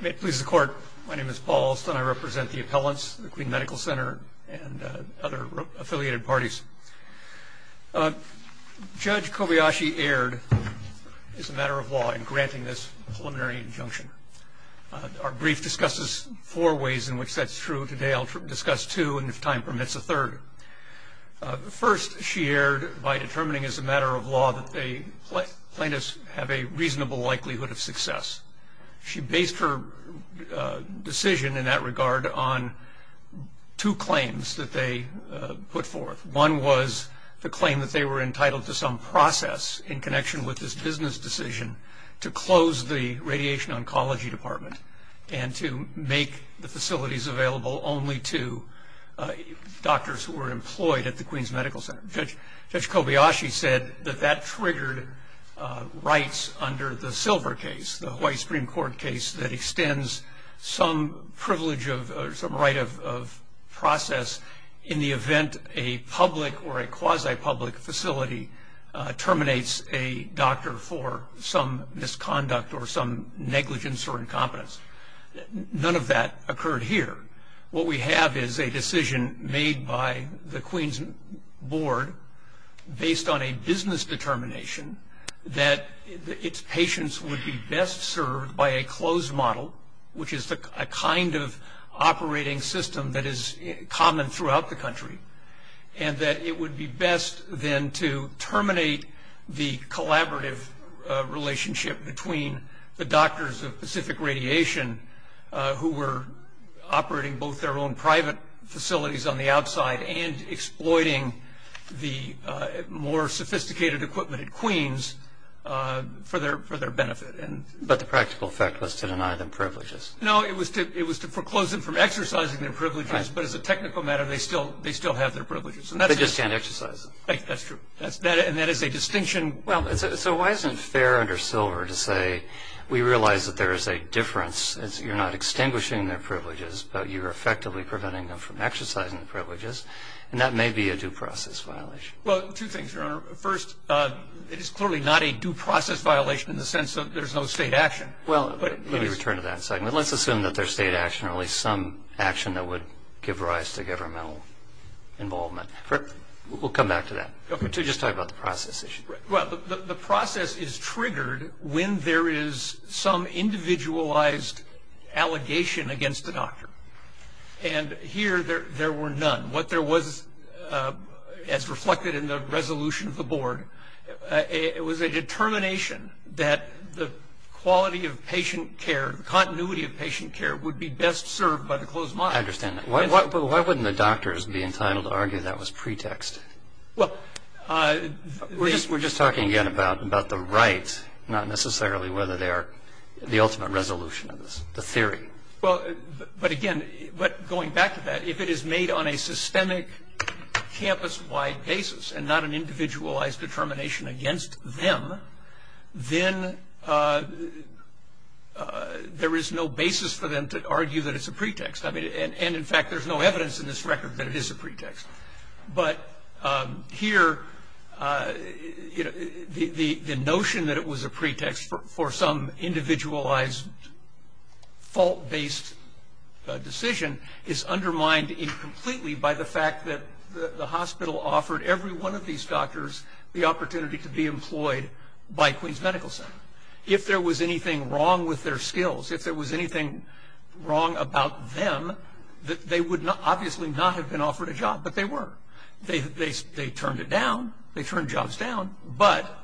May it please the court, my name is Paul Alston. I represent the appellants, the Queen's Medical Center and other affiliated parties. Judge Kobayashi erred as a matter of law in granting this preliminary injunction. Our brief discusses four ways in which that's true. Today I'll discuss two and if time permits a third. First, she erred by determining as a matter of law that plaintiffs have a reasonable likelihood of success. She based her decision in that regard on two claims that they put forth. One was the claim that they were entitled to some process in connection with this business decision to close the Radiation Oncology Department and to make the facilities available only to doctors who were employed at the Queen's Medical Center. Judge Kobayashi said that triggered rights under the silver case, the White Supreme Court case that extends some privilege of some right of process in the event a public or a quasi-public facility terminates a doctor for some misconduct or some negligence or incompetence. None of that occurred here. What we have is a decision made by the Queen's Board based on a business determination that its patients would be best served by a closed model, which is the kind of operating system that is common throughout the country, and that it would be best then to terminate the collaborative relationship between the doctors of Pacific Radiation who were operating both their own private facilities on the outside and exploiting the more sophisticated equipment at Queen's for their benefit. But the practical effect was to deny them privileges. No, it was to foreclose them from exercising their privileges, but as a technical matter, they still have their privileges. They just can't exercise them. That's true. And that is a distinction. Well, so why isn't it fair under silver to say we realize that there is a difference as you're not extinguishing their privileges, but you're effectively preventing them from exercising the privileges, and that may be a due process violation? Well, two things, Your Honor. First, it is clearly not a due process violation in the sense that there's no State action. Well, let me return to that in a second. But let's assume that there's State action or at least some action that would give rise to governmental involvement. We'll come back to that. Okay. To just talk about the process issue. Well, the process is triggered when there is some individualized allegation against the doctor. And here, there were none. What there was, as reflected in the resolution of the board, it was a determination that the quality of patient care, the continuity of patient care would be best served by the closed model. I understand that. But why wouldn't the doctors be entitled to argue that was pretext? Well, they We're just talking again about the right, not necessarily whether they are the ultimate resolution of this, the theory. Well, but again, going back to that, if it is made on a systemic campus-wide basis and not an individualized determination against them, then there is no basis for them to argue that it's a pretext. I mean, and in fact, there's no evidence in this record that it is a pretext. But here, the notion that it was a pretext for some individualized fault-based decision is undermined incompletely by the fact that the hospital offered every one of these doctors the opportunity to be employed by Queens Medical Center. If there was anything wrong with their skills, if there was anything wrong about them, they would obviously not have been offered a job, but they were. They turned it down. They turned jobs down, but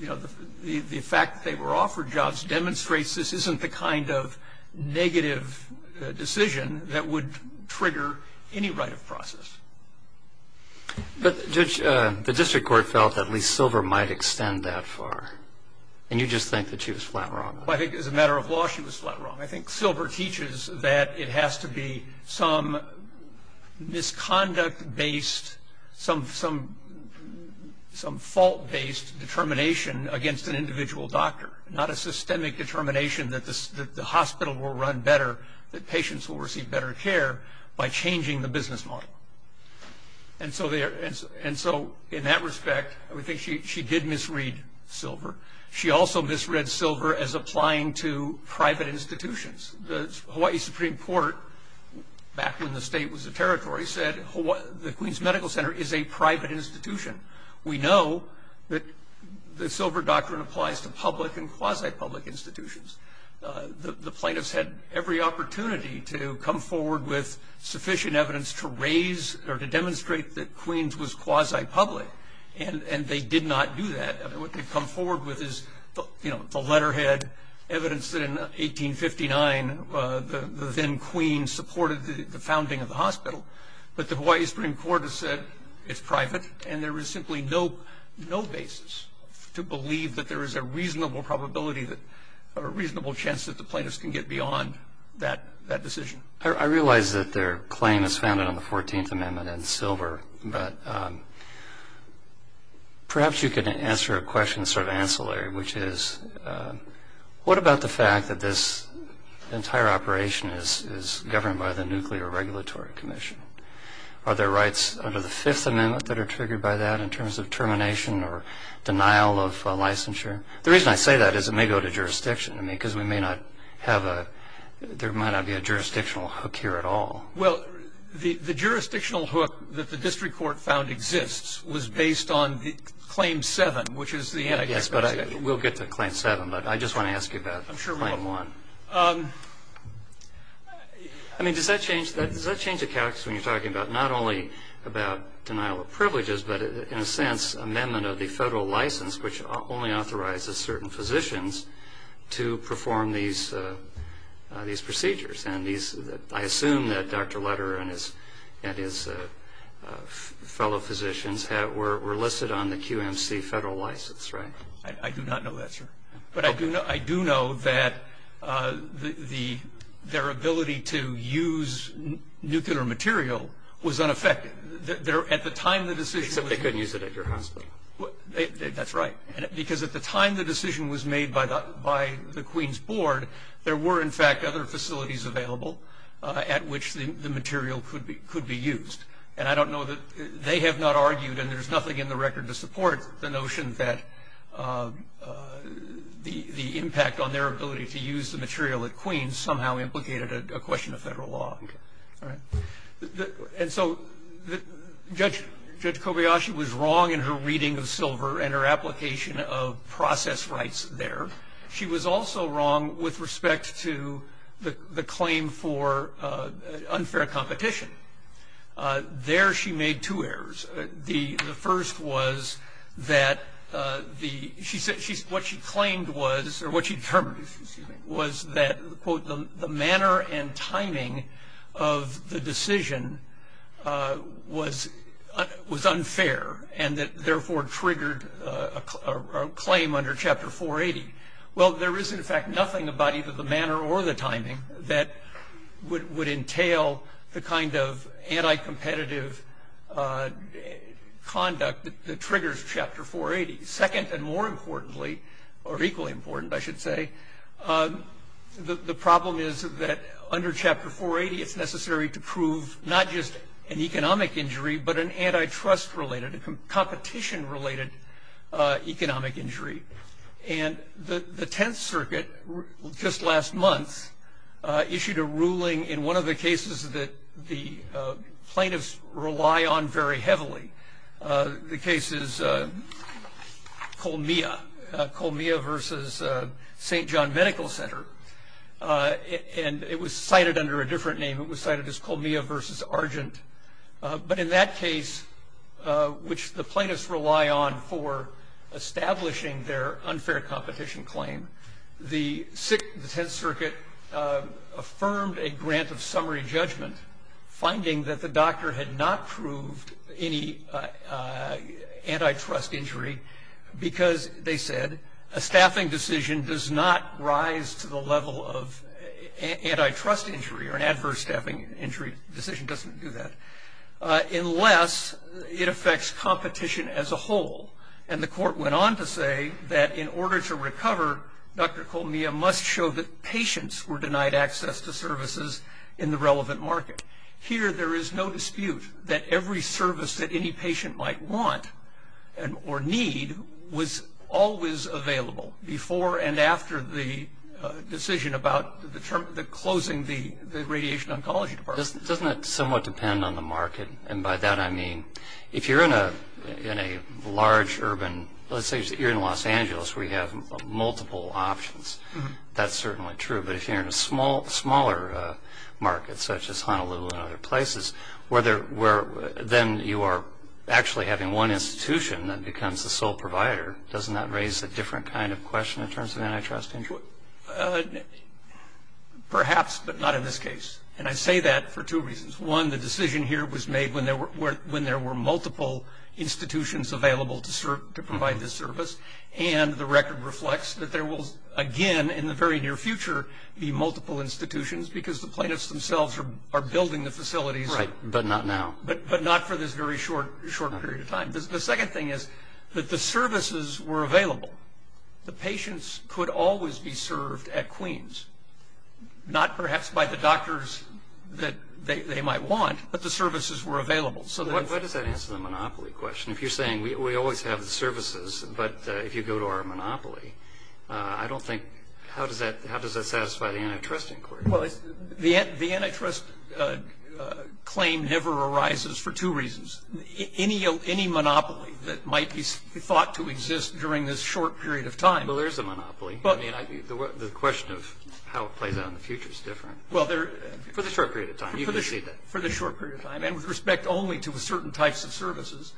the fact that they were offered jobs demonstrates this isn't the kind of negative decision that would trigger any right of process. But Judge, the district court felt that at least Silver might extend that far. And you just think that she was flat wrong. I think as a matter of law, she was flat wrong. I think Silver teaches that it has to be some misconduct-based, some fault-based determination against an individual doctor, not a systemic determination that the hospital will run better, that patients will receive better care by changing the business model. And so in that respect, I would think she did misread Silver. She also misread Silver as applying to private institutions. The Hawaii Supreme Court, back when the state was the territory, said the Queens Medical Center is a private institution. We know that the Silver Doctrine applies to public and quasi-public institutions. The plaintiffs had every opportunity to come forward with sufficient evidence to raise or to demonstrate that Queens was quasi-public, and they did not do that. What they've come forward with is the letterhead, evidence that in 1859, the then Queen supported the founding of the hospital. But the Hawaii Supreme Court has said it's private, and there is simply no basis to believe that there is a reasonable probability, a reasonable chance that the plaintiffs can get beyond that decision. I realize that their claim is founded on the 14th Amendment and Silver. But perhaps you could answer a question sort of ancillary, which is, what about the fact that this entire operation is governed by the Nuclear Regulatory Commission? Are there rights under the Fifth Amendment that are triggered by that, in terms of termination or denial of licensure? The reason I say that is it may go to jurisdiction. I mean, because we may not have a, there might not be a jurisdictional hook here at all. Well, the jurisdictional hook that the district court found exists was based on the Claim 7, which is the antitrust case. Yes, but we'll get to Claim 7, but I just want to ask you about Claim 1. I mean, does that change the context when you're talking about not only about denial of privileges, but in a sense, amendment of the federal license, which only authorizes certain physicians to perform these procedures. And I assume that Dr. Leder and his fellow physicians were listed on the QMC federal license, right? I do not know that, sir. But I do know that their ability to use nuclear material was unaffected. At the time the decision was made- Except they couldn't use it at your hospital. That's right. Because at the time the decision was made by the Queen's Board, there were, in fact, other facilities available at which the material could be used. And I don't know that, they have not argued, and there's nothing in the record to support the notion that the impact on their ability to use the material at Queen's somehow implicated a question of federal law. And so Judge Kobayashi was wrong in her reading of Silver and her application of process rights there. She was also wrong with respect to the claim for unfair competition. There she made two errors. The first was that, what she claimed was, or what she determined, was that, quote, the manner and timing of the decision was unfair and that therefore triggered a claim under Chapter 480. Well, there is, in fact, nothing about either the manner or the timing that would entail the kind of anti-competitive conduct that triggers Chapter 480. Second, and more importantly, or equally important, I should say, the problem is that under Chapter 480, it's necessary to prove not just an economic injury, but an antitrust-related, a competition-related economic injury. And the Tenth Circuit, just last month, issued a ruling in one of the cases that the plaintiffs rely on very heavily, the case is Colmia. Colmia versus St. John Medical Center. And it was cited under a different name. It was cited as Colmia versus Argent. But in that case, which the plaintiffs rely on for establishing their unfair competition claim, the Tenth Circuit affirmed a grant of summary judgment, finding that the doctor had not proved any antitrust injury because, they said, a staffing decision does not rise to the level of antitrust injury, or an adverse staffing injury decision doesn't do that. Unless it affects competition as a whole. And the court went on to say that in order to recover, Dr. Colmia must show that patients were denied access to services in the relevant market. Here, there is no dispute that every service that any patient might want or need was always available before and after the decision about the closing the radiation oncology department. Doesn't it somewhat depend on the market? And by that I mean, if you're in a large urban, let's say you're in Los Angeles where you have multiple options. That's certainly true. But if you're in a smaller market, such as Honolulu and other places, where then you are actually having one institution that becomes the sole provider. Doesn't that raise a different kind of question in terms of antitrust injury? Perhaps, but not in this case. And I say that for two reasons. One, the decision here was made when there were multiple institutions available to provide this service. And the record reflects that there will, again, in the very near future, be multiple institutions because the plaintiffs themselves are building the facilities- Right, but not now. But not for this very short period of time. The second thing is that the services were available. The patients could always be served at Queens. Not perhaps by the doctors that they might want, but the services were available. So that- Why does that answer the monopoly question? If you're saying we always have the services, but if you go to our monopoly, I don't think, how does that satisfy the antitrust inquiry? Well, the antitrust claim never arises for two reasons. Any monopoly that might be thought to exist during this short period of time- Well, there's a monopoly. I mean, the question of how it plays out in the future is different. Well, there- For the short period of time, you can see that. For the short period of time, and with respect only to certain types of services,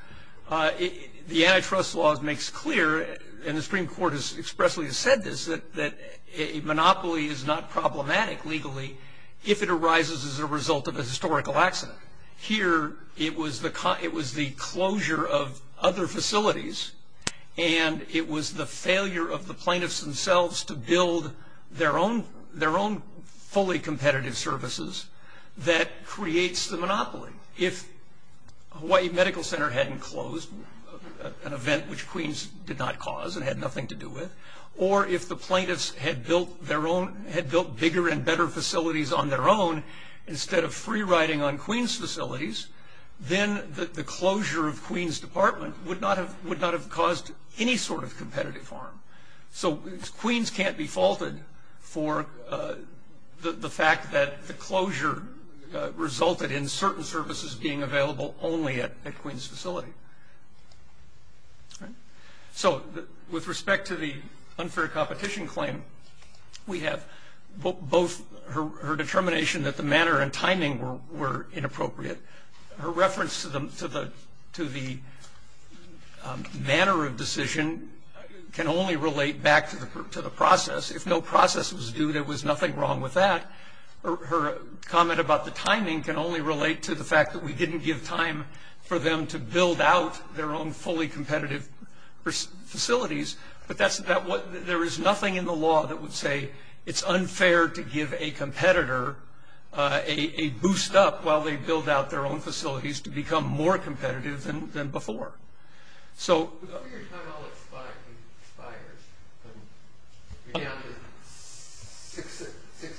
the antitrust law makes clear, and the Supreme Court has expressly said this, that a monopoly is not problematic legally if it arises as a result of a historical accident. Here, it was the closure of other facilities, and it was the failure of the plaintiffs themselves to build their own fully competitive services that creates the monopoly. If Hawaii Medical Center hadn't closed, an event which Queens did not cause and had nothing to do with, or if the plaintiffs had built bigger and better facilities on their own instead of free riding on Queens facilities, then the closure of Queens Department would not have caused any sort of competitive harm. So Queens can't be faulted for the fact that the closure resulted in certain services being available only at Queens facility. So with respect to the unfair competition claim, we have both her determination that the manner and timing were inappropriate. Her reference to the manner of decision can only relate back to the process. If no process was due, there was nothing wrong with that. Her comment about the timing can only relate to the fact that we didn't give time for them to build out their own fully competitive facilities. But there is nothing in the law that would say it's unfair to give a competitor a boost up while they build out their own facilities to become more competitive than before. So- Over your time all expired, you're down to six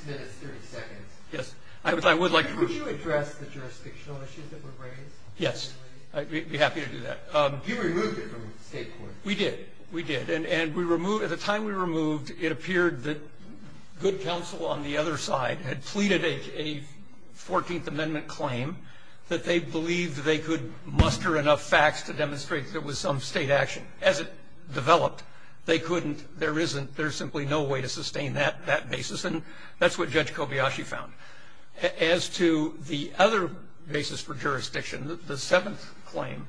minutes, 30 seconds. Yes, I would like to- Could you address the jurisdictional issues that were raised? Yes, I'd be happy to do that. You removed it from the state court. We did, we did, and at the time we removed, it appeared that good counsel on the other side had pleaded a 14th Amendment claim that they believed they could muster enough facts to demonstrate there was some state action. As it developed, they couldn't, there isn't, there's simply no way to sustain that basis. And that's what Judge Kobayashi found. As to the other basis for jurisdiction, the seventh claim,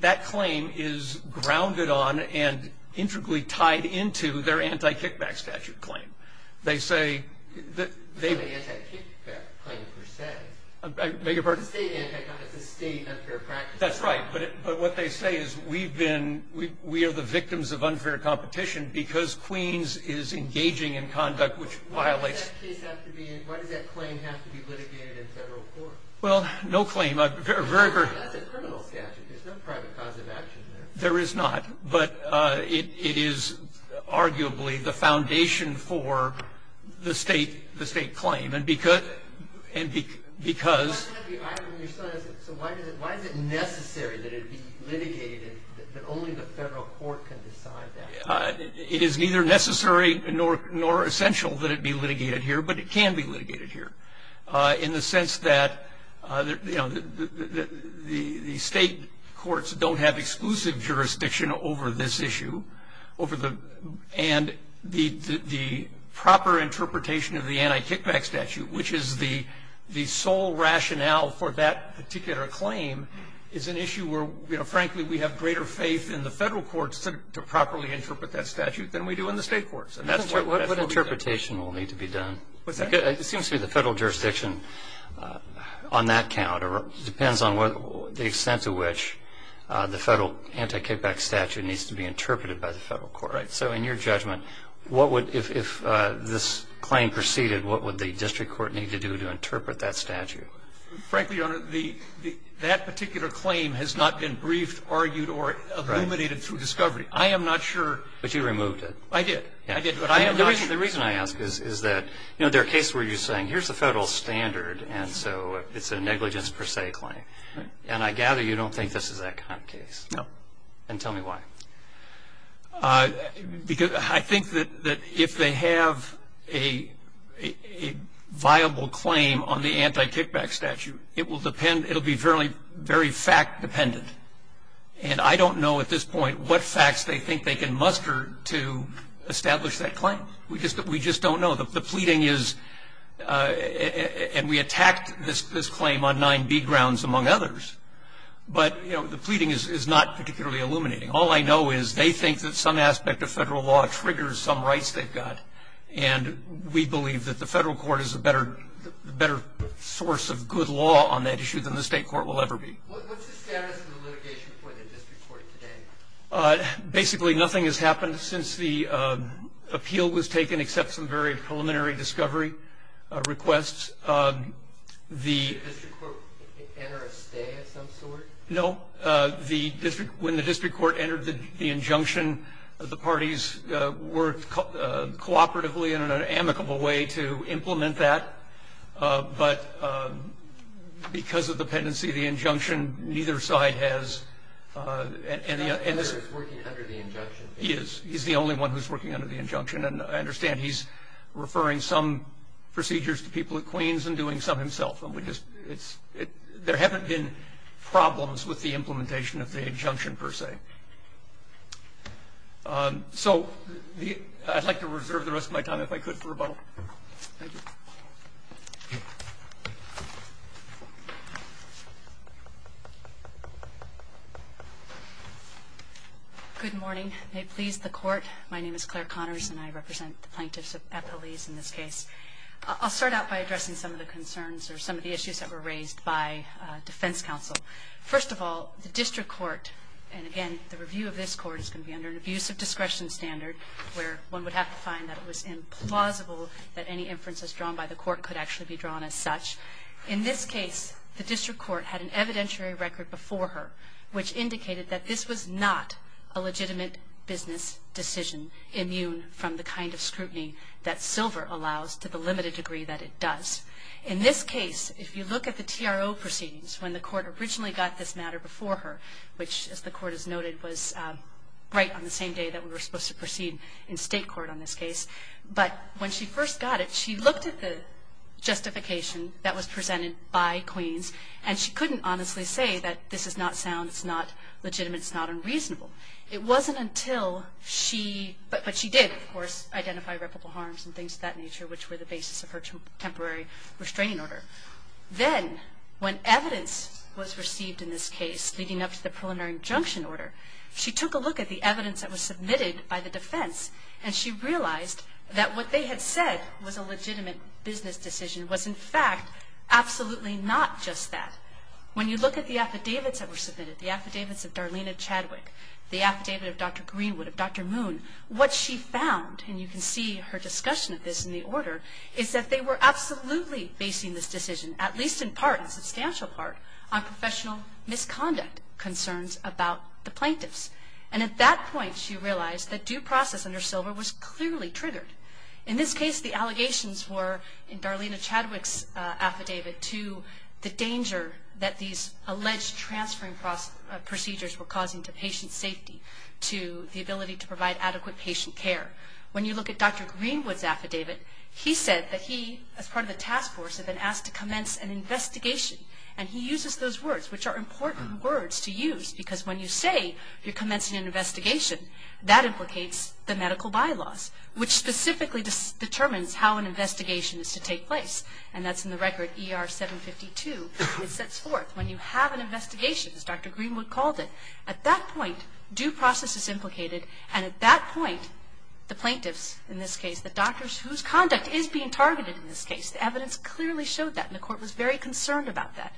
that claim is grounded on and intricately tied into their anti-kickback statute claim. They say that- The anti-kickback claim, per se. I beg your pardon? It's a state anti-competitive, it's a state unfair practice. That's right, but what they say is we've been, we are the victims of unfair competition because Queens is engaging in conduct which violates- Why does that claim have to be litigated in federal court? Well, no claim, a very- That's a criminal statute, there's no private cause of action there. There is not, but it is arguably the foundation for the state claim. And because- I understand, so why is it necessary that it be litigated, that only the federal court can decide that? It is neither necessary nor essential that it be litigated here, but it can be litigated here. In the sense that the state courts don't have exclusive jurisdiction over this issue, and the proper interpretation of the anti-kickback statute, which is the sole rationale for that particular claim, is an issue where, frankly, we have greater faith in the federal courts to properly interpret that statute than we do in the state courts. And that's what- What interpretation will need to be done? What's that? It seems to me the federal jurisdiction, on that count, or the federal anti-kickback statute needs to be interpreted by the federal court. So in your judgment, what would, if this claim proceeded, what would the district court need to do to interpret that statute? Frankly, Your Honor, that particular claim has not been briefed, argued, or illuminated through discovery. I am not sure- But you removed it. I did. I did, but I am not sure- The reason I ask is that there are cases where you're saying, here's the federal standard, and so it's a negligence per se claim. And I gather you don't think this is that kind of case. No. And tell me why. Because I think that if they have a viable claim on the anti-kickback statute, it will depend, it will be very fact dependent. And I don't know at this point what facts they think they can muster to establish that claim. We just don't know. The pleading is, and we attacked this claim on nine B grounds among others, but the pleading is not particularly illuminating. All I know is they think that some aspect of federal law triggers some rights they've got, and we believe that the federal court is a better source of good law on that issue than the state court will ever be. What's the status of the litigation for the district court today? Basically, nothing has happened since the appeal was taken, except some very preliminary discovery requests. Did the district court enter a stay of some sort? No, when the district court entered the injunction, the parties worked cooperatively and in an amicable way to implement that. But because of the pendency of the injunction, neither side has. And the other is working under the injunction. He is. He's the only one who's working under the injunction. And I understand he's referring some procedures to people at Queens and doing some himself. And we just, it's, there haven't been problems with the implementation of the injunction, per se. So, I'd like to reserve the rest of my time, if I could, for rebuttal. Good morning. May it please the court. My name is Claire Connors and I represent the plaintiffs at police in this case. I'll start out by addressing some of the concerns or some of the issues that were raised by defense counsel. First of all, the district court, and again, the review of this court is going to be under an abuse of discretion standard, where one would have to find that it was implausible that any inferences drawn by the court could actually be drawn as such. In this case, the district court had an evidentiary record before her, which indicated that this was not a legitimate business decision, immune from the kind of scrutiny that silver allows to the limited degree that it does. In this case, if you look at the TRO proceedings, when the court originally got this matter before her, which, as the court has noted, was right on the same day that we were supposed to proceed in state court on this case, but when she first got it, she looked at the justification that was presented by Queens, and she couldn't honestly say that this is not sound, it's not legitimate, it's not unreasonable. It wasn't until she, but she did, of course, identify reputable harms and things of that nature, which were the basis of her temporary restraining order. Then, when evidence was received in this case, leading up to the preliminary injunction order, she took a look at the evidence that was submitted by the defense, and she realized that what they had said was a legitimate business decision was, in fact, absolutely not just that. When you look at the affidavits that were submitted, the affidavits of Darlena Chadwick, the affidavit of Dr. Greenwood, of Dr. Moon, what she found, and you can see her discussion of this in the order, is that they were absolutely basing this decision, at least in part, in substantial part, on professional misconduct concerns about the plaintiffs. And at that point, she realized that due process under silver was clearly triggered. In this case, the allegations were, in Darlena Chadwick's affidavit, to the danger that these alleged transferring procedures were causing to patient safety, to the ability to provide adequate patient care. When you look at Dr. Greenwood's affidavit, he said that he, as part of the task force, had been asked to commence an investigation. And he uses those words, which are important words to use, because when you say you're commencing an investigation, that implicates the medical bylaws, which specifically determines how an investigation is to take place. And that's in the record, ER 752, it sets forth. When you have an investigation, as Dr. Greenwood called it, at that point, due process is implicated. And at that point, the plaintiffs, in this case, the doctors whose conduct is being targeted in this case, the evidence clearly showed that, and the court was very concerned about that.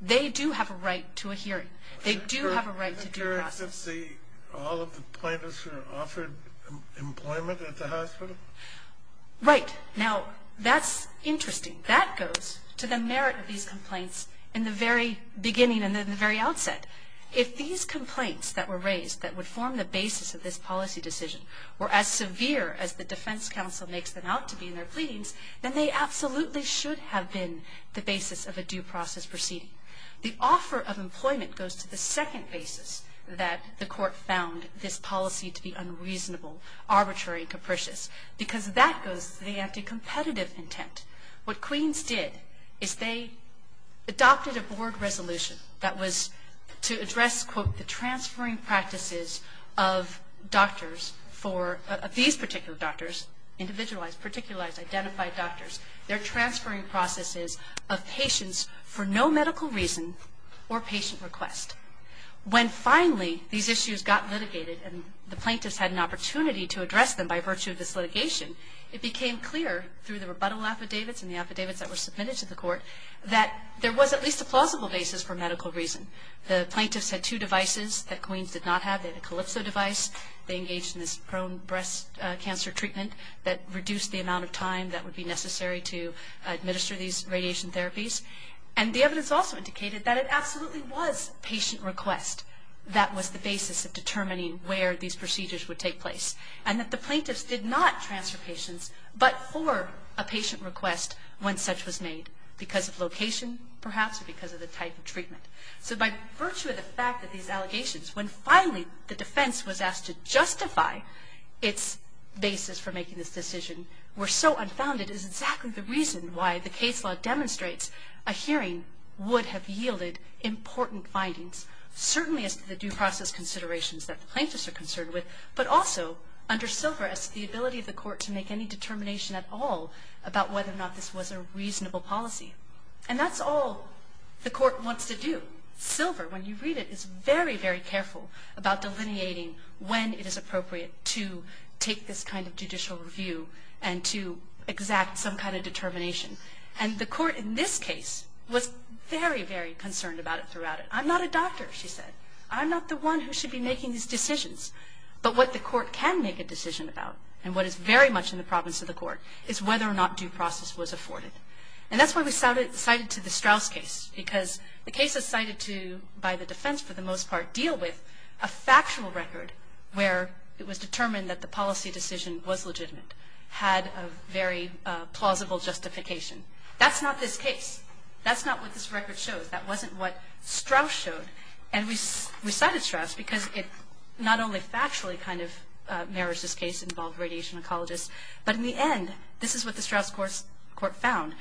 They do have a right to due process. Doesn't the, all of the plaintiffs who are offered employment at the hospital? Right. Now, that's interesting. That goes to the merit of these complaints in the very beginning and in the very outset. If these complaints that were raised that would form the basis of this policy decision were as severe as the defense counsel makes them out to be in their pleadings, then they absolutely should have been the basis of a due process proceeding. The offer of employment goes to the second basis that the court found this policy to be unreasonable, arbitrary, and capricious. Because that goes to the anti-competitive intent. What Queens did is they adopted a board resolution that was to address, quote, the transferring practices of doctors for these particular doctors, individualized, particularized, identified doctors. They're transferring processes of patients for no medical reason or patient request. When finally these issues got litigated and the plaintiffs had an opportunity to address them by virtue of this litigation, it became clear through the rebuttal affidavits and the affidavits that were submitted to the court, that there was at least a plausible basis for medical reason. The plaintiffs had two devices that Queens did not have. They had a Calypso device. They engaged in this prone breast cancer treatment that reduced the amount of time that would be necessary to administer these radiation therapies. And the evidence also indicated that it absolutely was patient request that was the basis of determining where these procedures would take place. And that the plaintiffs did not transfer patients but for a patient request when such was made because of location, perhaps, or because of the type of treatment. So by virtue of the fact that these allegations, when finally the defense was so unfounded, is exactly the reason why the case law demonstrates a hearing would have yielded important findings, certainly as to the due process considerations that the plaintiffs are concerned with. But also, under Silver, as to the ability of the court to make any determination at all about whether or not this was a reasonable policy. And that's all the court wants to do. Silver, when you read it, is very, very careful about delineating when it is appropriate to take this kind of judicial review. And to exact some kind of determination. And the court in this case was very, very concerned about it throughout it. I'm not a doctor, she said. I'm not the one who should be making these decisions. But what the court can make a decision about, and what is very much in the province of the court, is whether or not due process was afforded. And that's why we cited to the Strauss case. Because the case is cited to, by the defense for the most part, deal with a factual record where it was determined that the policy decision was legitimate, had a very plausible justification. That's not this case. That's not what this record shows. That wasn't what Strauss showed. And we cited Strauss because it not only factually kind of mirrors this case, involved radiation ecologists, but in the end, this is what the Strauss court found.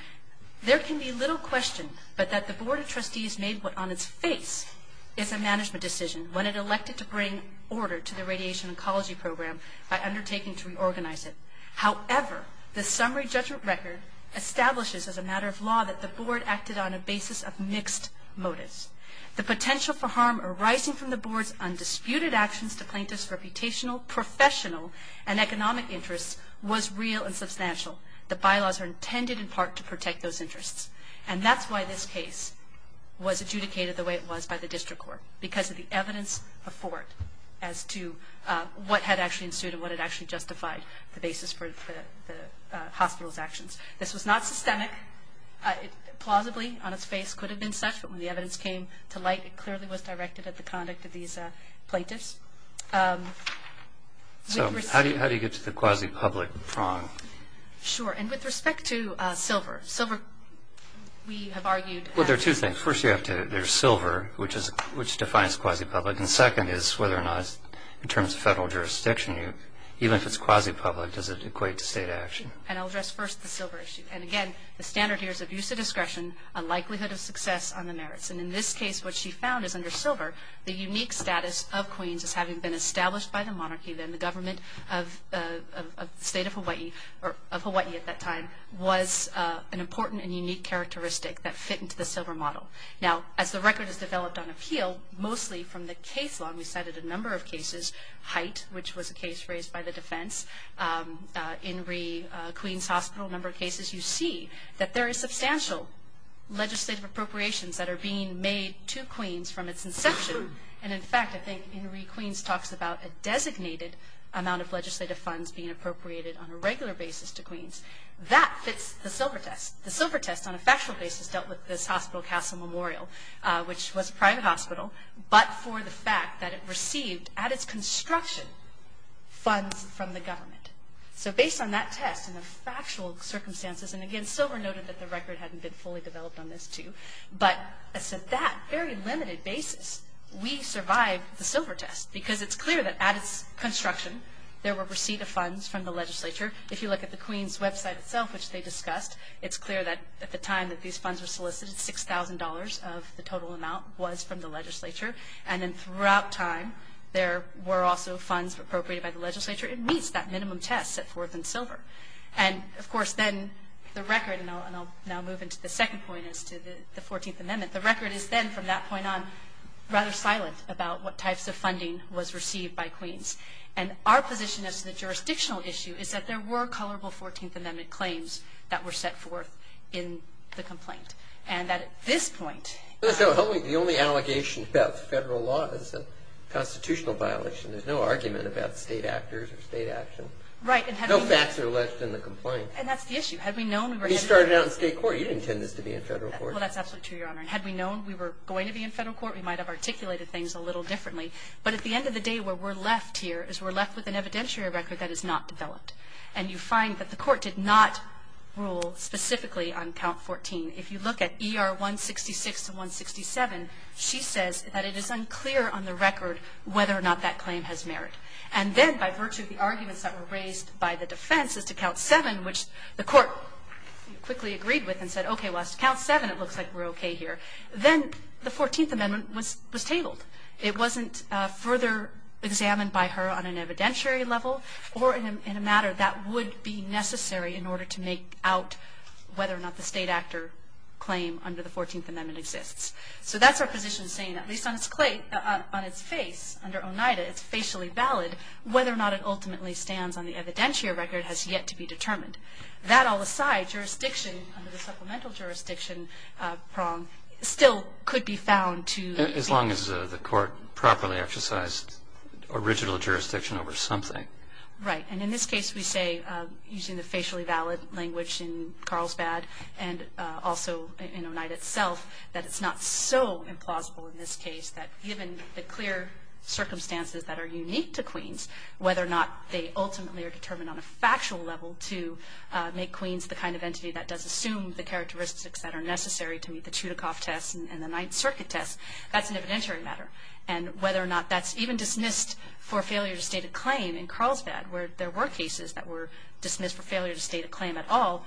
There can be little question but that the board of trustees made what on its face is a management decision when it elected to bring order to the radiation ecology program by undertaking to reorganize it. However, the summary judgment record establishes as a matter of law that the board acted on a basis of mixed motives. The potential for harm arising from the board's undisputed actions to plaintiffs reputational, professional, and economic interests was real and substantial. The bylaws are intended in part to protect those interests. And that's why this case was adjudicated the way it was by the district court. Because of the evidence before it as to what had actually ensued and what had actually justified the basis for the hospital's actions. This was not systemic. Plausibly, on its face, could have been such. But when the evidence came to light, it clearly was directed at the conduct of these plaintiffs. So, how do you get to the quasi-public prong? Sure, and with respect to silver, silver, we have argued- Well, there are two things. First, you have to, there's silver, which defines quasi-public. And second is whether or not, in terms of federal jurisdiction, even if it's quasi-public, does it equate to state action? And I'll address first the silver issue. And again, the standard here is abuse of discretion, a likelihood of success on the merits. And in this case, what she found is under silver, the unique status of Queens as having been established by the monarchy. Then the government of the state of Hawaii, or of Hawaii at that time, was an important and unique characteristic that fit into the silver model. Now, as the record has developed on appeal, mostly from the case law, and we cited a number of cases, Hite, which was a case raised by the defense, Inree, Queens Hospital, a number of cases. You see that there is substantial legislative appropriations that are being made to Queens from its inception. And in fact, I think Inree, Queens talks about a designated amount of legislative funds being appropriated on a regular basis to Queens. That fits the silver test. The silver test on a factual basis dealt with this hospital, Castle Memorial, which was a private hospital, but for the fact that it received, at its construction, funds from the government. So based on that test and the factual circumstances, and again, silver noted that the record hadn't been fully developed on this too. But that very limited basis, we survived the silver test, because it's clear that at its construction, there were receipt of funds from the legislature. If you look at the Queens website itself, which they discussed, it's clear that at the time that these funds were solicited, $6,000 of the total amount was from the legislature. And then throughout time, there were also funds appropriated by the legislature. It meets that minimum test set forth in silver. And of course, then the record, and I'll now move into the second point as to the 14th Amendment. The record is then, from that point on, rather silent about what types of funding was received by Queens. And our position as to the jurisdictional issue is that there were colorable 14th Amendment claims that were set forth in the complaint. And that at this point- So the only allegation about federal law is a constitutional violation. There's no argument about state actors or state action. Right, and- No facts are alleged in the complaint. And that's the issue. Had we known- We started out in state court. You didn't intend this to be in federal court. Well, that's absolutely true, Your Honor. And had we known we were going to be in federal court, we might have articulated things a little differently. But at the end of the day, where we're left here, is we're left with an evidentiary record that is not developed. And you find that the court did not rule specifically on count 14. If you look at ER 166 and 167, she says that it is unclear on the record whether or not that claim has merit. And then, by virtue of the arguments that were raised by the defense as to count 7, which the court quickly agreed with and said, okay, well, as to count 7, it looks like we're okay here. Then the 14th Amendment was tabled. It wasn't further examined by her on an evidentiary level or in a matter that would be necessary in order to make out whether or not the state actor claim under the 14th Amendment exists. So that's our position saying, at least on its face, under Oneida, it's facially valid, whether or not it ultimately stands on the evidentiary record has yet to be determined. That all aside, jurisdiction under the supplemental jurisdiction prong still could be found to- As long as the court properly exercised original jurisdiction over something. Right, and in this case, we say, using the facially valid language in Carlsbad, and also in Oneida itself, that it's not so implausible in this case that given the clear circumstances that are unique to Queens, whether or not they ultimately are determined on a factual level to make Queens the kind of entity that does assume the characteristics that are necessary to meet the Chudikov test and the Ninth Circuit test, that's an evidentiary matter. And whether or not that's even dismissed for failure to state a claim in Carlsbad, where there were cases that were dismissed for failure to state a claim at all,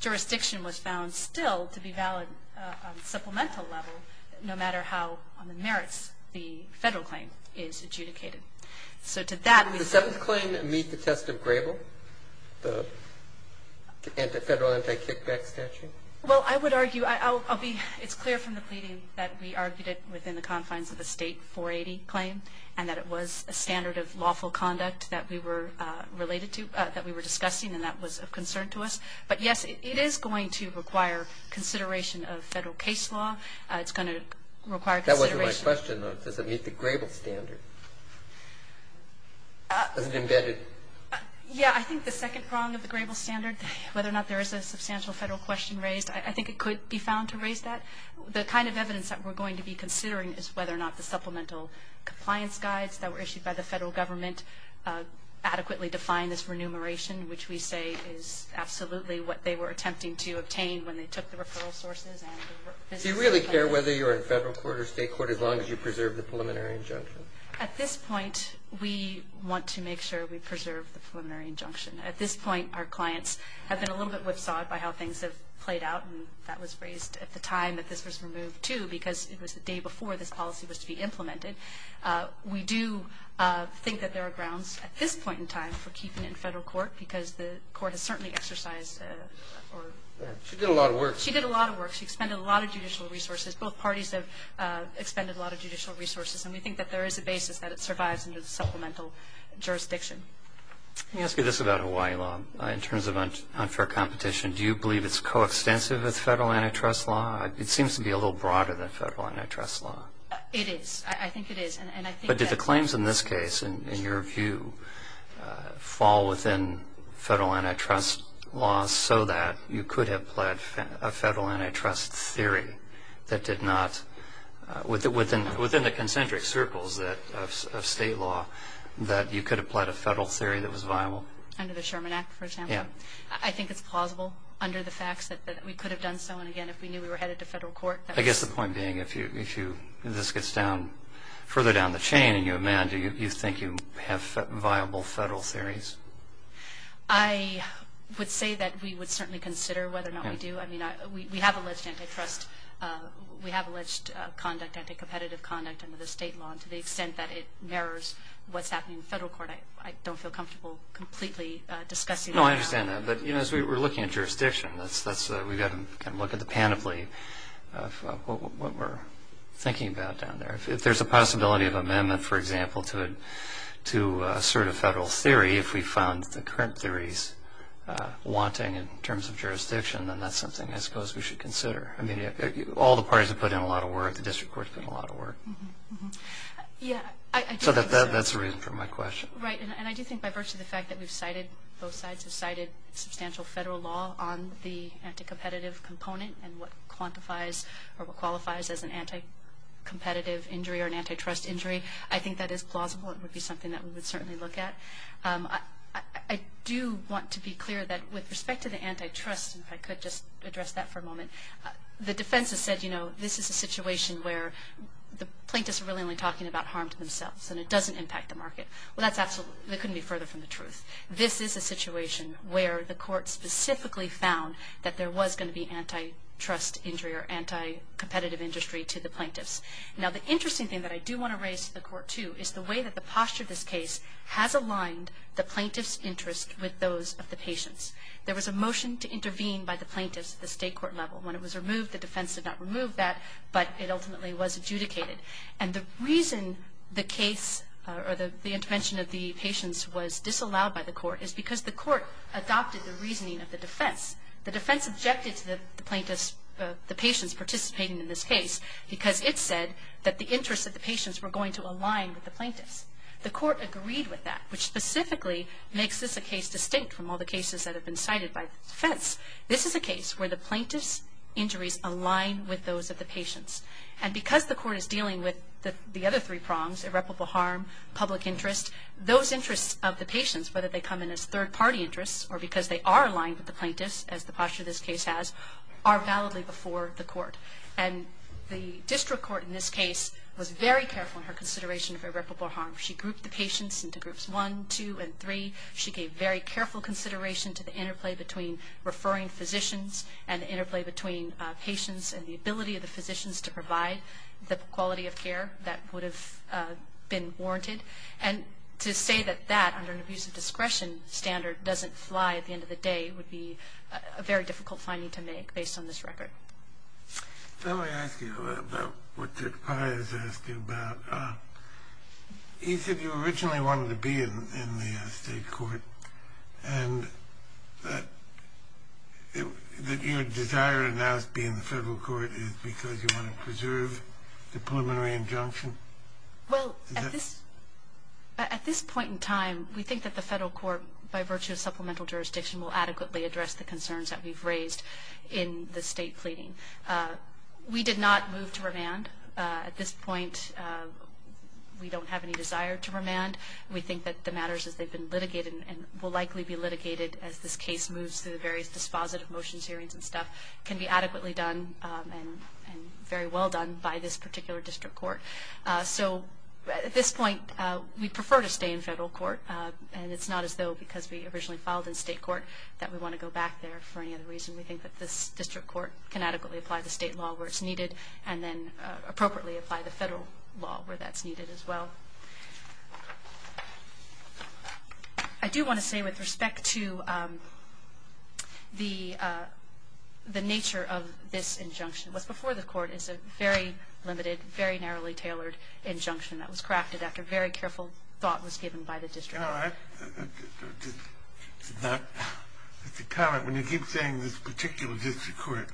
jurisdiction was found still to be valid on a supplemental level, no matter how on the merits the federal claim is adjudicated. So to that we- Does the seventh claim meet the test of Grable, the federal anti-kickback statute? Well, I would argue, I'll be, it's clear from the pleading that we argued it within the confines of the State 480 claim, and that it was a standard of lawful conduct that we were related to, that we were discussing, and that was of concern to us. But yes, it is going to require consideration of federal case law. It's going to require consideration- That wasn't my question, though. Does it meet the Grable standard? Is it embedded? Yeah, I think the second prong of the Grable standard, whether or not there's a substantial federal question raised, I think it could be found to raise that. The kind of evidence that we're going to be considering is whether or not the supplemental compliance guides that were issued by the federal government adequately define this remuneration, which we say is absolutely what they were attempting to obtain when they took the referral sources and the- Do you really care whether you're in federal court or state court as long as you preserve the preliminary injunction? At this point, we want to make sure we preserve the preliminary injunction. At this point, our clients have been a little bit whipsawed by how things have played out, and that was raised at the time that this was removed, too, because it was the day before this policy was to be implemented. We do think that there are grounds, at this point in time, for keeping it in federal court, because the court has certainly exercised or- She did a lot of work. She did a lot of work. She expended a lot of judicial resources. Both parties have expended a lot of judicial resources, and we think that there is a basis that it survives in the supplemental jurisdiction. Let me ask you this about Hawaii law, in terms of unfair competition. Do you believe it's coextensive with federal antitrust law? It seems to be a little broader than federal antitrust law. It is, I think it is, and I think that- But did the claims in this case, in your view, fall within federal antitrust law so that you could have pled a federal antitrust theory that did not, within the concentric circles of state law, that you could have pled a federal theory that was viable? Under the Sherman Act, for example? Yeah. I think it's plausible, under the facts, that we could have done so, and again, if we knew we were headed to federal court, that was- I guess the point being, if this gets down, further down the chain, and you amend, do you think you have viable federal theories? I would say that we would certainly consider whether or not we do. I mean, we have alleged antitrust, we have alleged conduct, anti-competitive conduct under the state law, and to the extent that it mirrors what's happening in federal court, I don't feel comfortable completely discussing- No, I understand that, but as we're looking at jurisdiction, we've got to look at the panoply of what we're thinking about down there. If there's a possibility of amendment, for example, to assert a federal theory, if we found the current theories wanting in terms of jurisdiction, then that's something I suppose we should consider. I mean, all the parties have put in a lot of work. The district court's put in a lot of work. Mm-hm, mm-hm. Yeah, I do think so. So that's the reason for my question. Right, and I do think by virtue of the fact that we've cited, both sides have cited substantial federal law on the anti-competitive component and what quantifies or what qualifies as an anti-competitive injury or an antitrust injury, I think that is plausible. It would be something that we would certainly look at. I do want to be clear that with respect to the antitrust, if I could just address that for a moment, the defense has said, you know, this is a situation where the plaintiffs are really only talking about harm to themselves and it doesn't impact the market. Well, that's absolutely, that couldn't be further from the truth. This is a situation where the court specifically found that there was going to be antitrust injury or anti-competitive industry to the plaintiffs. Now, the interesting thing that I do want to raise to the court, too, is the way that the posture of this case has aligned the plaintiff's interest with those of the patients. There was a motion to intervene by the plaintiffs at the state court level. When it was removed, the defense did not remove that, but it ultimately was adjudicated. And the reason the case or the intervention of the patients was disallowed by the court is because the court adopted the reasoning of the defense. The defense objected to the plaintiffs, the patients participating in this case because it said that the interests of the patients were going to align with the plaintiffs. The court agreed with that, which specifically makes this a case distinct from all the cases that have been cited by the defense. This is a case where the plaintiff's injuries align with those of the patients. And because the court is dealing with the other three prongs, irreparable harm, public interest, those interests of the patients, whether they come in as third party interests or because they are aligned with the plaintiffs, as the posture of this case has, are validly before the court. And the district court in this case was very careful in her consideration of irreparable harm. She grouped the patients into groups one, two, and three. She gave very careful consideration to the interplay between referring physicians and the interplay between patients and the ability of the physicians to provide the quality of care that would have been warranted. And to say that that, under an abuse of discretion standard, doesn't fly at the end of the day would be a very difficult finding to make based on this record. Let me ask you about what Dick Pye has asked you about. He said you originally wanted to be in the state court. And that your desire to now be in the federal court is because you want to preserve the preliminary injunction? Well, at this point in time, we think that the federal court, by virtue of supplemental jurisdiction, will adequately address the concerns that we've raised in the state pleading. We did not move to revand. At this point, we don't have any desire to revand. We think that the matters as they've been litigated and will likely be litigated as this case moves through the various dispositive motions hearings and stuff, can be adequately done and very well done by this particular district court. So at this point, we prefer to stay in federal court. And it's not as though, because we originally filed in state court, that we want to go back there for any other reason. We think that this district court can adequately apply the state law where it's needed, and then appropriately apply the federal law where that's needed as well. I do want to say, with respect to the nature of this injunction, what's before the court is a very limited, very narrowly tailored injunction that was crafted after very careful thought was given by the district. No, I, it's a comment. When you keep saying this particular district court,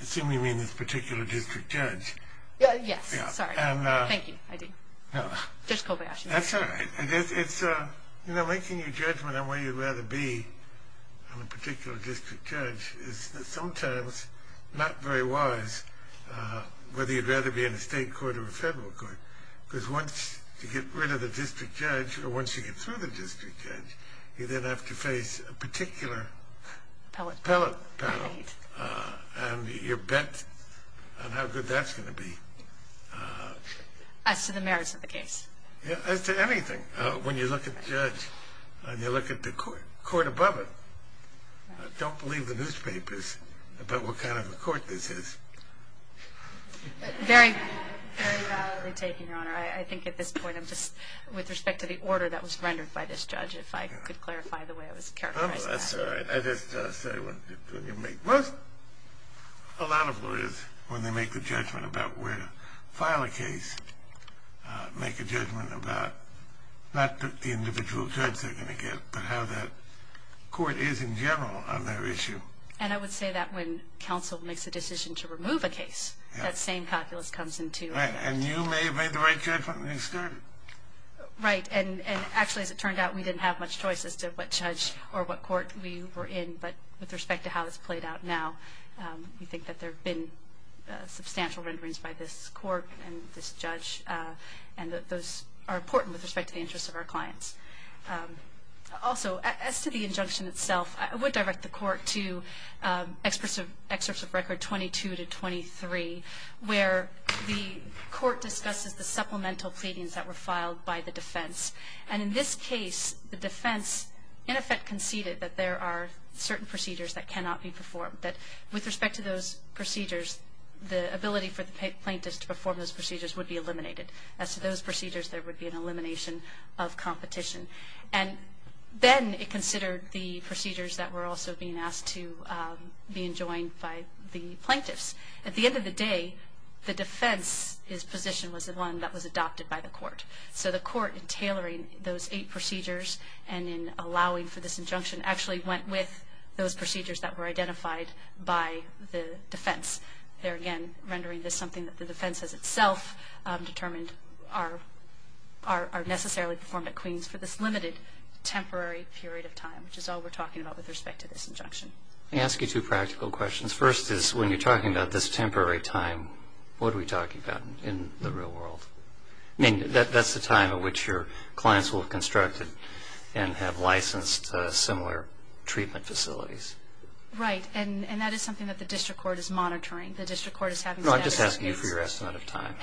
assuming you mean this particular district judge. Yes, sorry. Thank you, I do. Judge Kobayashi. That's all right. It's, you know, making your judgment on where you'd rather be on a particular district judge is sometimes not very wise, whether you'd rather be in a state court or a federal court. Because once you get rid of the district judge, or once you get through the district judge, you then have to face a particular appellate panel. And you're bet on how good that's going to be. As to the merits of the case. As to anything. When you look at the judge, and you look at the court above it, don't believe the newspapers about what kind of a court this is. Very, very validly taken, Your Honor. I think at this point, I'm just, with respect to the order that was rendered by this judge, if I could clarify the way it was characterized. That's all right. I just say when you make, most, a lot of lawyers, when they make the judgment about where to file a case, make a judgment about, not the individual judge they're going to get, but how that court is in general on their issue. And I would say that when counsel makes a decision to remove a case, that same calculus comes into it. Right, and you may have made the right judgment when you started. Right, and actually, as it turned out, we didn't have much choice as to what judge, or what court we were in, but with respect to how it's played out now, we think that there have been substantial renderings by this court, and this judge, and that those are important with respect to the interests of our clients. Also, as to the injunction itself, I would direct the court to excerpts of record 22 to 23, where the court discusses the supplemental pleadings that were filed by the defense. And in this case, the defense, in effect, conceded that there are certain procedures that cannot be performed, that with respect to those procedures, the ability for the plaintiffs to perform those procedures would be eliminated. As to those procedures, there would be an elimination of competition. And then it considered the procedures that were also being asked to be enjoined by the plaintiffs. At the end of the day, the defense's position was the one that was adopted by the court. So the court, in tailoring those eight procedures, and in allowing for this injunction, actually went with those procedures that were identified by the defense. There again, rendering this something that the defense has itself determined are necessarily performed at Queens for this limited, temporary period of time, which is all we're talking about with respect to this injunction. I ask you two practical questions. First is, when you're talking about this temporary time, what are we talking about in the real world? I mean, that's the time at which your clients will have constructed and have licensed similar treatment facilities. Right, and that is something that the district court is monitoring. The district court is having... No, I'm just asking you for your estimate of time,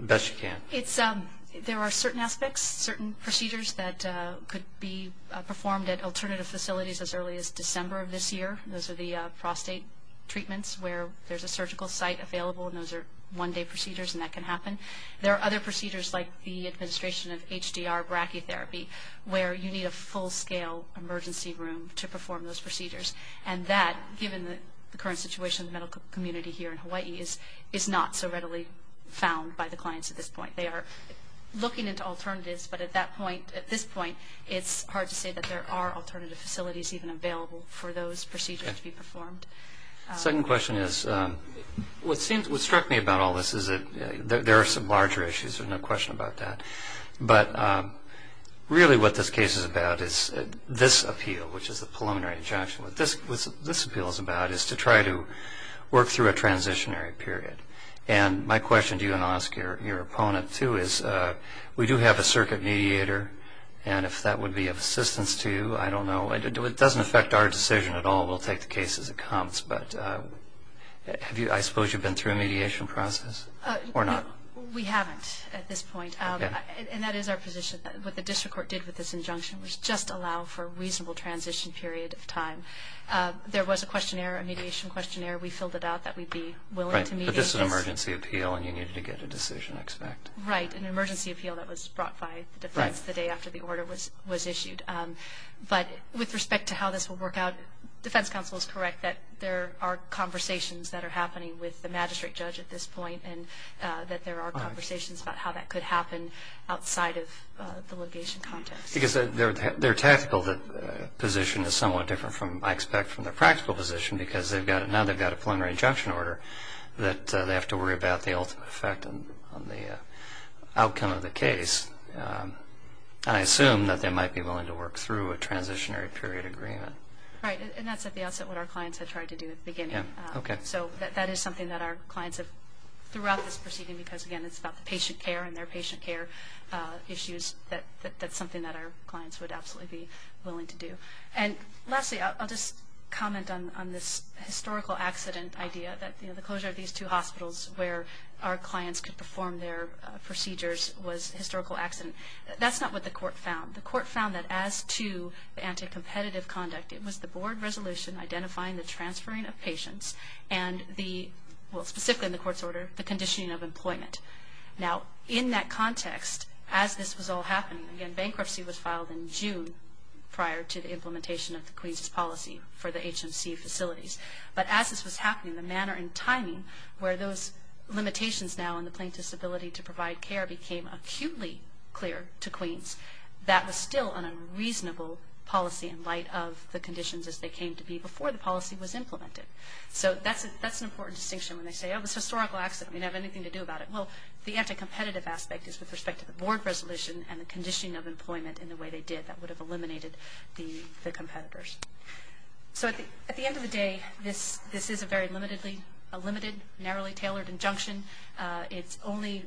best you can. It's, there are certain aspects, certain procedures that could be performed at alternative facilities as early as December of this year. Those are the prostate treatments where there's a surgical site available, and those are one-day procedures, and that can happen. There are other procedures like the administration of HDR brachytherapy, where you need a full-scale emergency room to perform those procedures. And that, given the current situation in the medical community here in Hawaii, is not so readily found by the clients at this point. They are looking into alternatives, but at that point, at this point, it's hard to say that there are alternative facilities even available for those procedures to be performed. Second question is, what struck me about all this is that there are some larger issues. There's no question about that. But really what this case is about is this appeal, which is the preliminary injunction. What this appeal is about is to try to work through a transitionary period. And my question to you, and I'll ask your opponent too, is we do have a circuit mediator, and if that would be of assistance to you, I don't know. It doesn't affect our decision at all. We'll take the case as it comes. But have you, I suppose you've been through a mediation process, or not? We haven't at this point, and that is our position. What the district court did with this injunction was just allow for a reasonable transition period of time. There was a questionnaire, a mediation questionnaire. We filled it out that we'd be willing to mediate this. Right, but this is an emergency appeal, and you needed to get a decision expected. Right, an emergency appeal that was brought by the defense the day after the order was issued. But with respect to how this will work out, defense counsel is correct that there are conversations that are happening with the magistrate judge at this point, and that there are conversations about how that could happen outside of the litigation context. Because their tactical position is somewhat different, I expect, from their practical position because now they've got a preliminary injunction order that they have to worry about the ultimate effect on the outcome of the case. And I assume that they might be willing to work through a transitionary period agreement. Right, and that's at the outset what our clients had tried to do at the beginning. Yeah, okay. So that is something that our clients have throughout this proceeding because, again, it's about the patient care and their patient care issues. That's something that our clients would absolutely be willing to do. And lastly, I'll just comment on this historical accident idea that, you know, the closure of these two hospitals where our clients could perform their procedures was historical accident. That's not what the court found. The court found that as to the anti-competitive conduct, it was the board resolution identifying the transferring of patients and the, well, specifically in the court's order, the conditioning of employment. Now, in that context, as this was all happening, again, bankruptcy was filed in June prior to the implementation of the Queens's policy for the HMC facilities. But as this was happening, the manner and timing where those limitations now in the plaintiff's ability to provide care became acutely clear to Queens, that was still an unreasonable policy in light of the conditions as they came to be before the policy was implemented. So that's an important distinction when they say, oh, it's a historical accident. We didn't have anything to do about it. Well, the anti-competitive aspect is with respect to the board resolution and the conditioning of employment in the way they did that would have eliminated the competitors. So at the end of the day, this is a very limited, narrowly tailored injunction. It only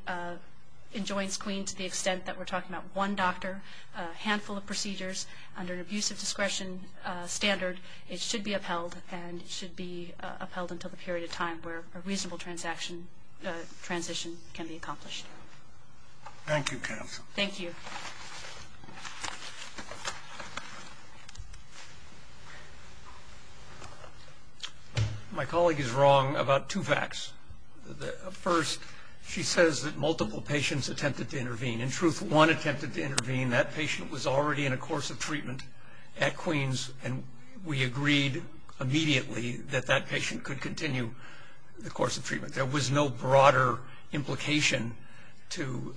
enjoins Queens to the extent that we're talking about one doctor, a handful of procedures under an abusive discretion standard. It should be upheld, and it should be upheld until the period of time where a reasonable transition can be accomplished. Thank you, counsel. Thank you. My colleague is wrong about two facts. First, she says that multiple patients attempted to intervene. In truth, one attempted to intervene. That patient was already in a course of treatment at Queens, and we agreed immediately that that patient could continue the course of treatment. There was no broader implication to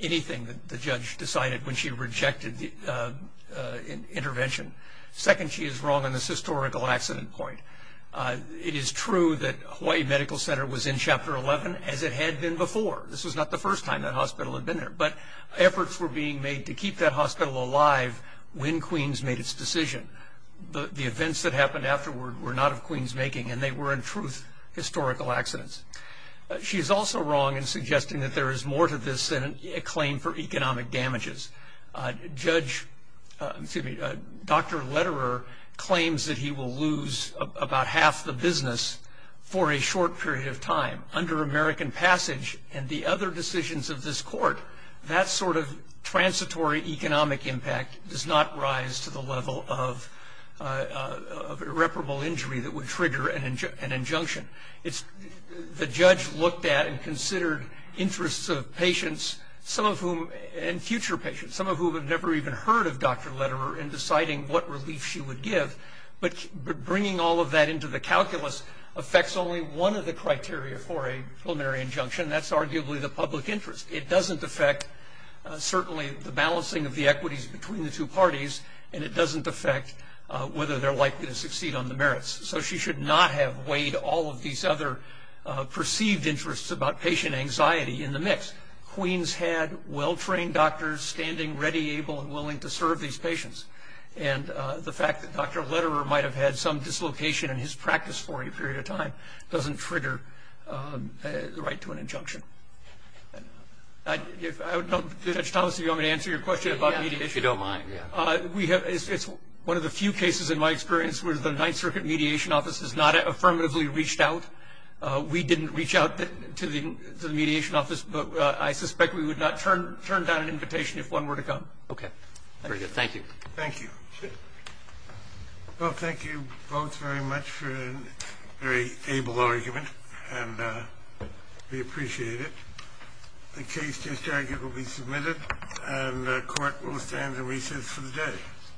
anything that the judge decided when she rejected the intervention. Second, she is wrong on this historical accident point. It is true that Hawaii Medical Center was in Chapter 11 as it had been before. This was not the first time that hospital had been there, but efforts were being made to keep that hospital alive when Queens made its decision. The events that happened afterward were not of Queens' making, and they were in truth historical accidents. She is also wrong in suggesting that there is more to this than a claim for economic damages. Judge, excuse me, Dr. Lederer claims that he will lose about half the business for a short period of time under American passage and the other decisions of this court. That sort of transitory economic impact does not rise to the level of irreparable injury that would trigger an injunction. It's, the judge looked at and considered interests of patients, some of whom, and future patients, some of whom have never even heard of Dr. Lederer in deciding what relief she would give, but bringing all of that into the calculus affects only one of the criteria for a preliminary injunction. That's arguably the public interest. It doesn't affect certainly the balancing of the equities between the two parties, and it doesn't affect whether they're likely to succeed on the merits. So she should not have weighed all of these other perceived interests about patient anxiety in the mix. Queens had well-trained doctors standing ready, able, and willing to serve these patients. And the fact that Dr. Lederer might have had some dislocation in his practice for a period of time doesn't trigger the right to an injunction. I don't know, Judge Thomas, if you want me to answer your question about mediation. You don't mind, yeah. We have, it's one of the few cases in my experience where the Ninth Circuit Mediation Office has not affirmatively reached out. We didn't reach out to the mediation office, but I suspect we would not turn down an invitation if one were to come. Okay, very good. Thank you. Thank you. Well, thank you both very much for a very able argument, and we appreciate it. The case discharge will be submitted, and the court will stand at recess for the day.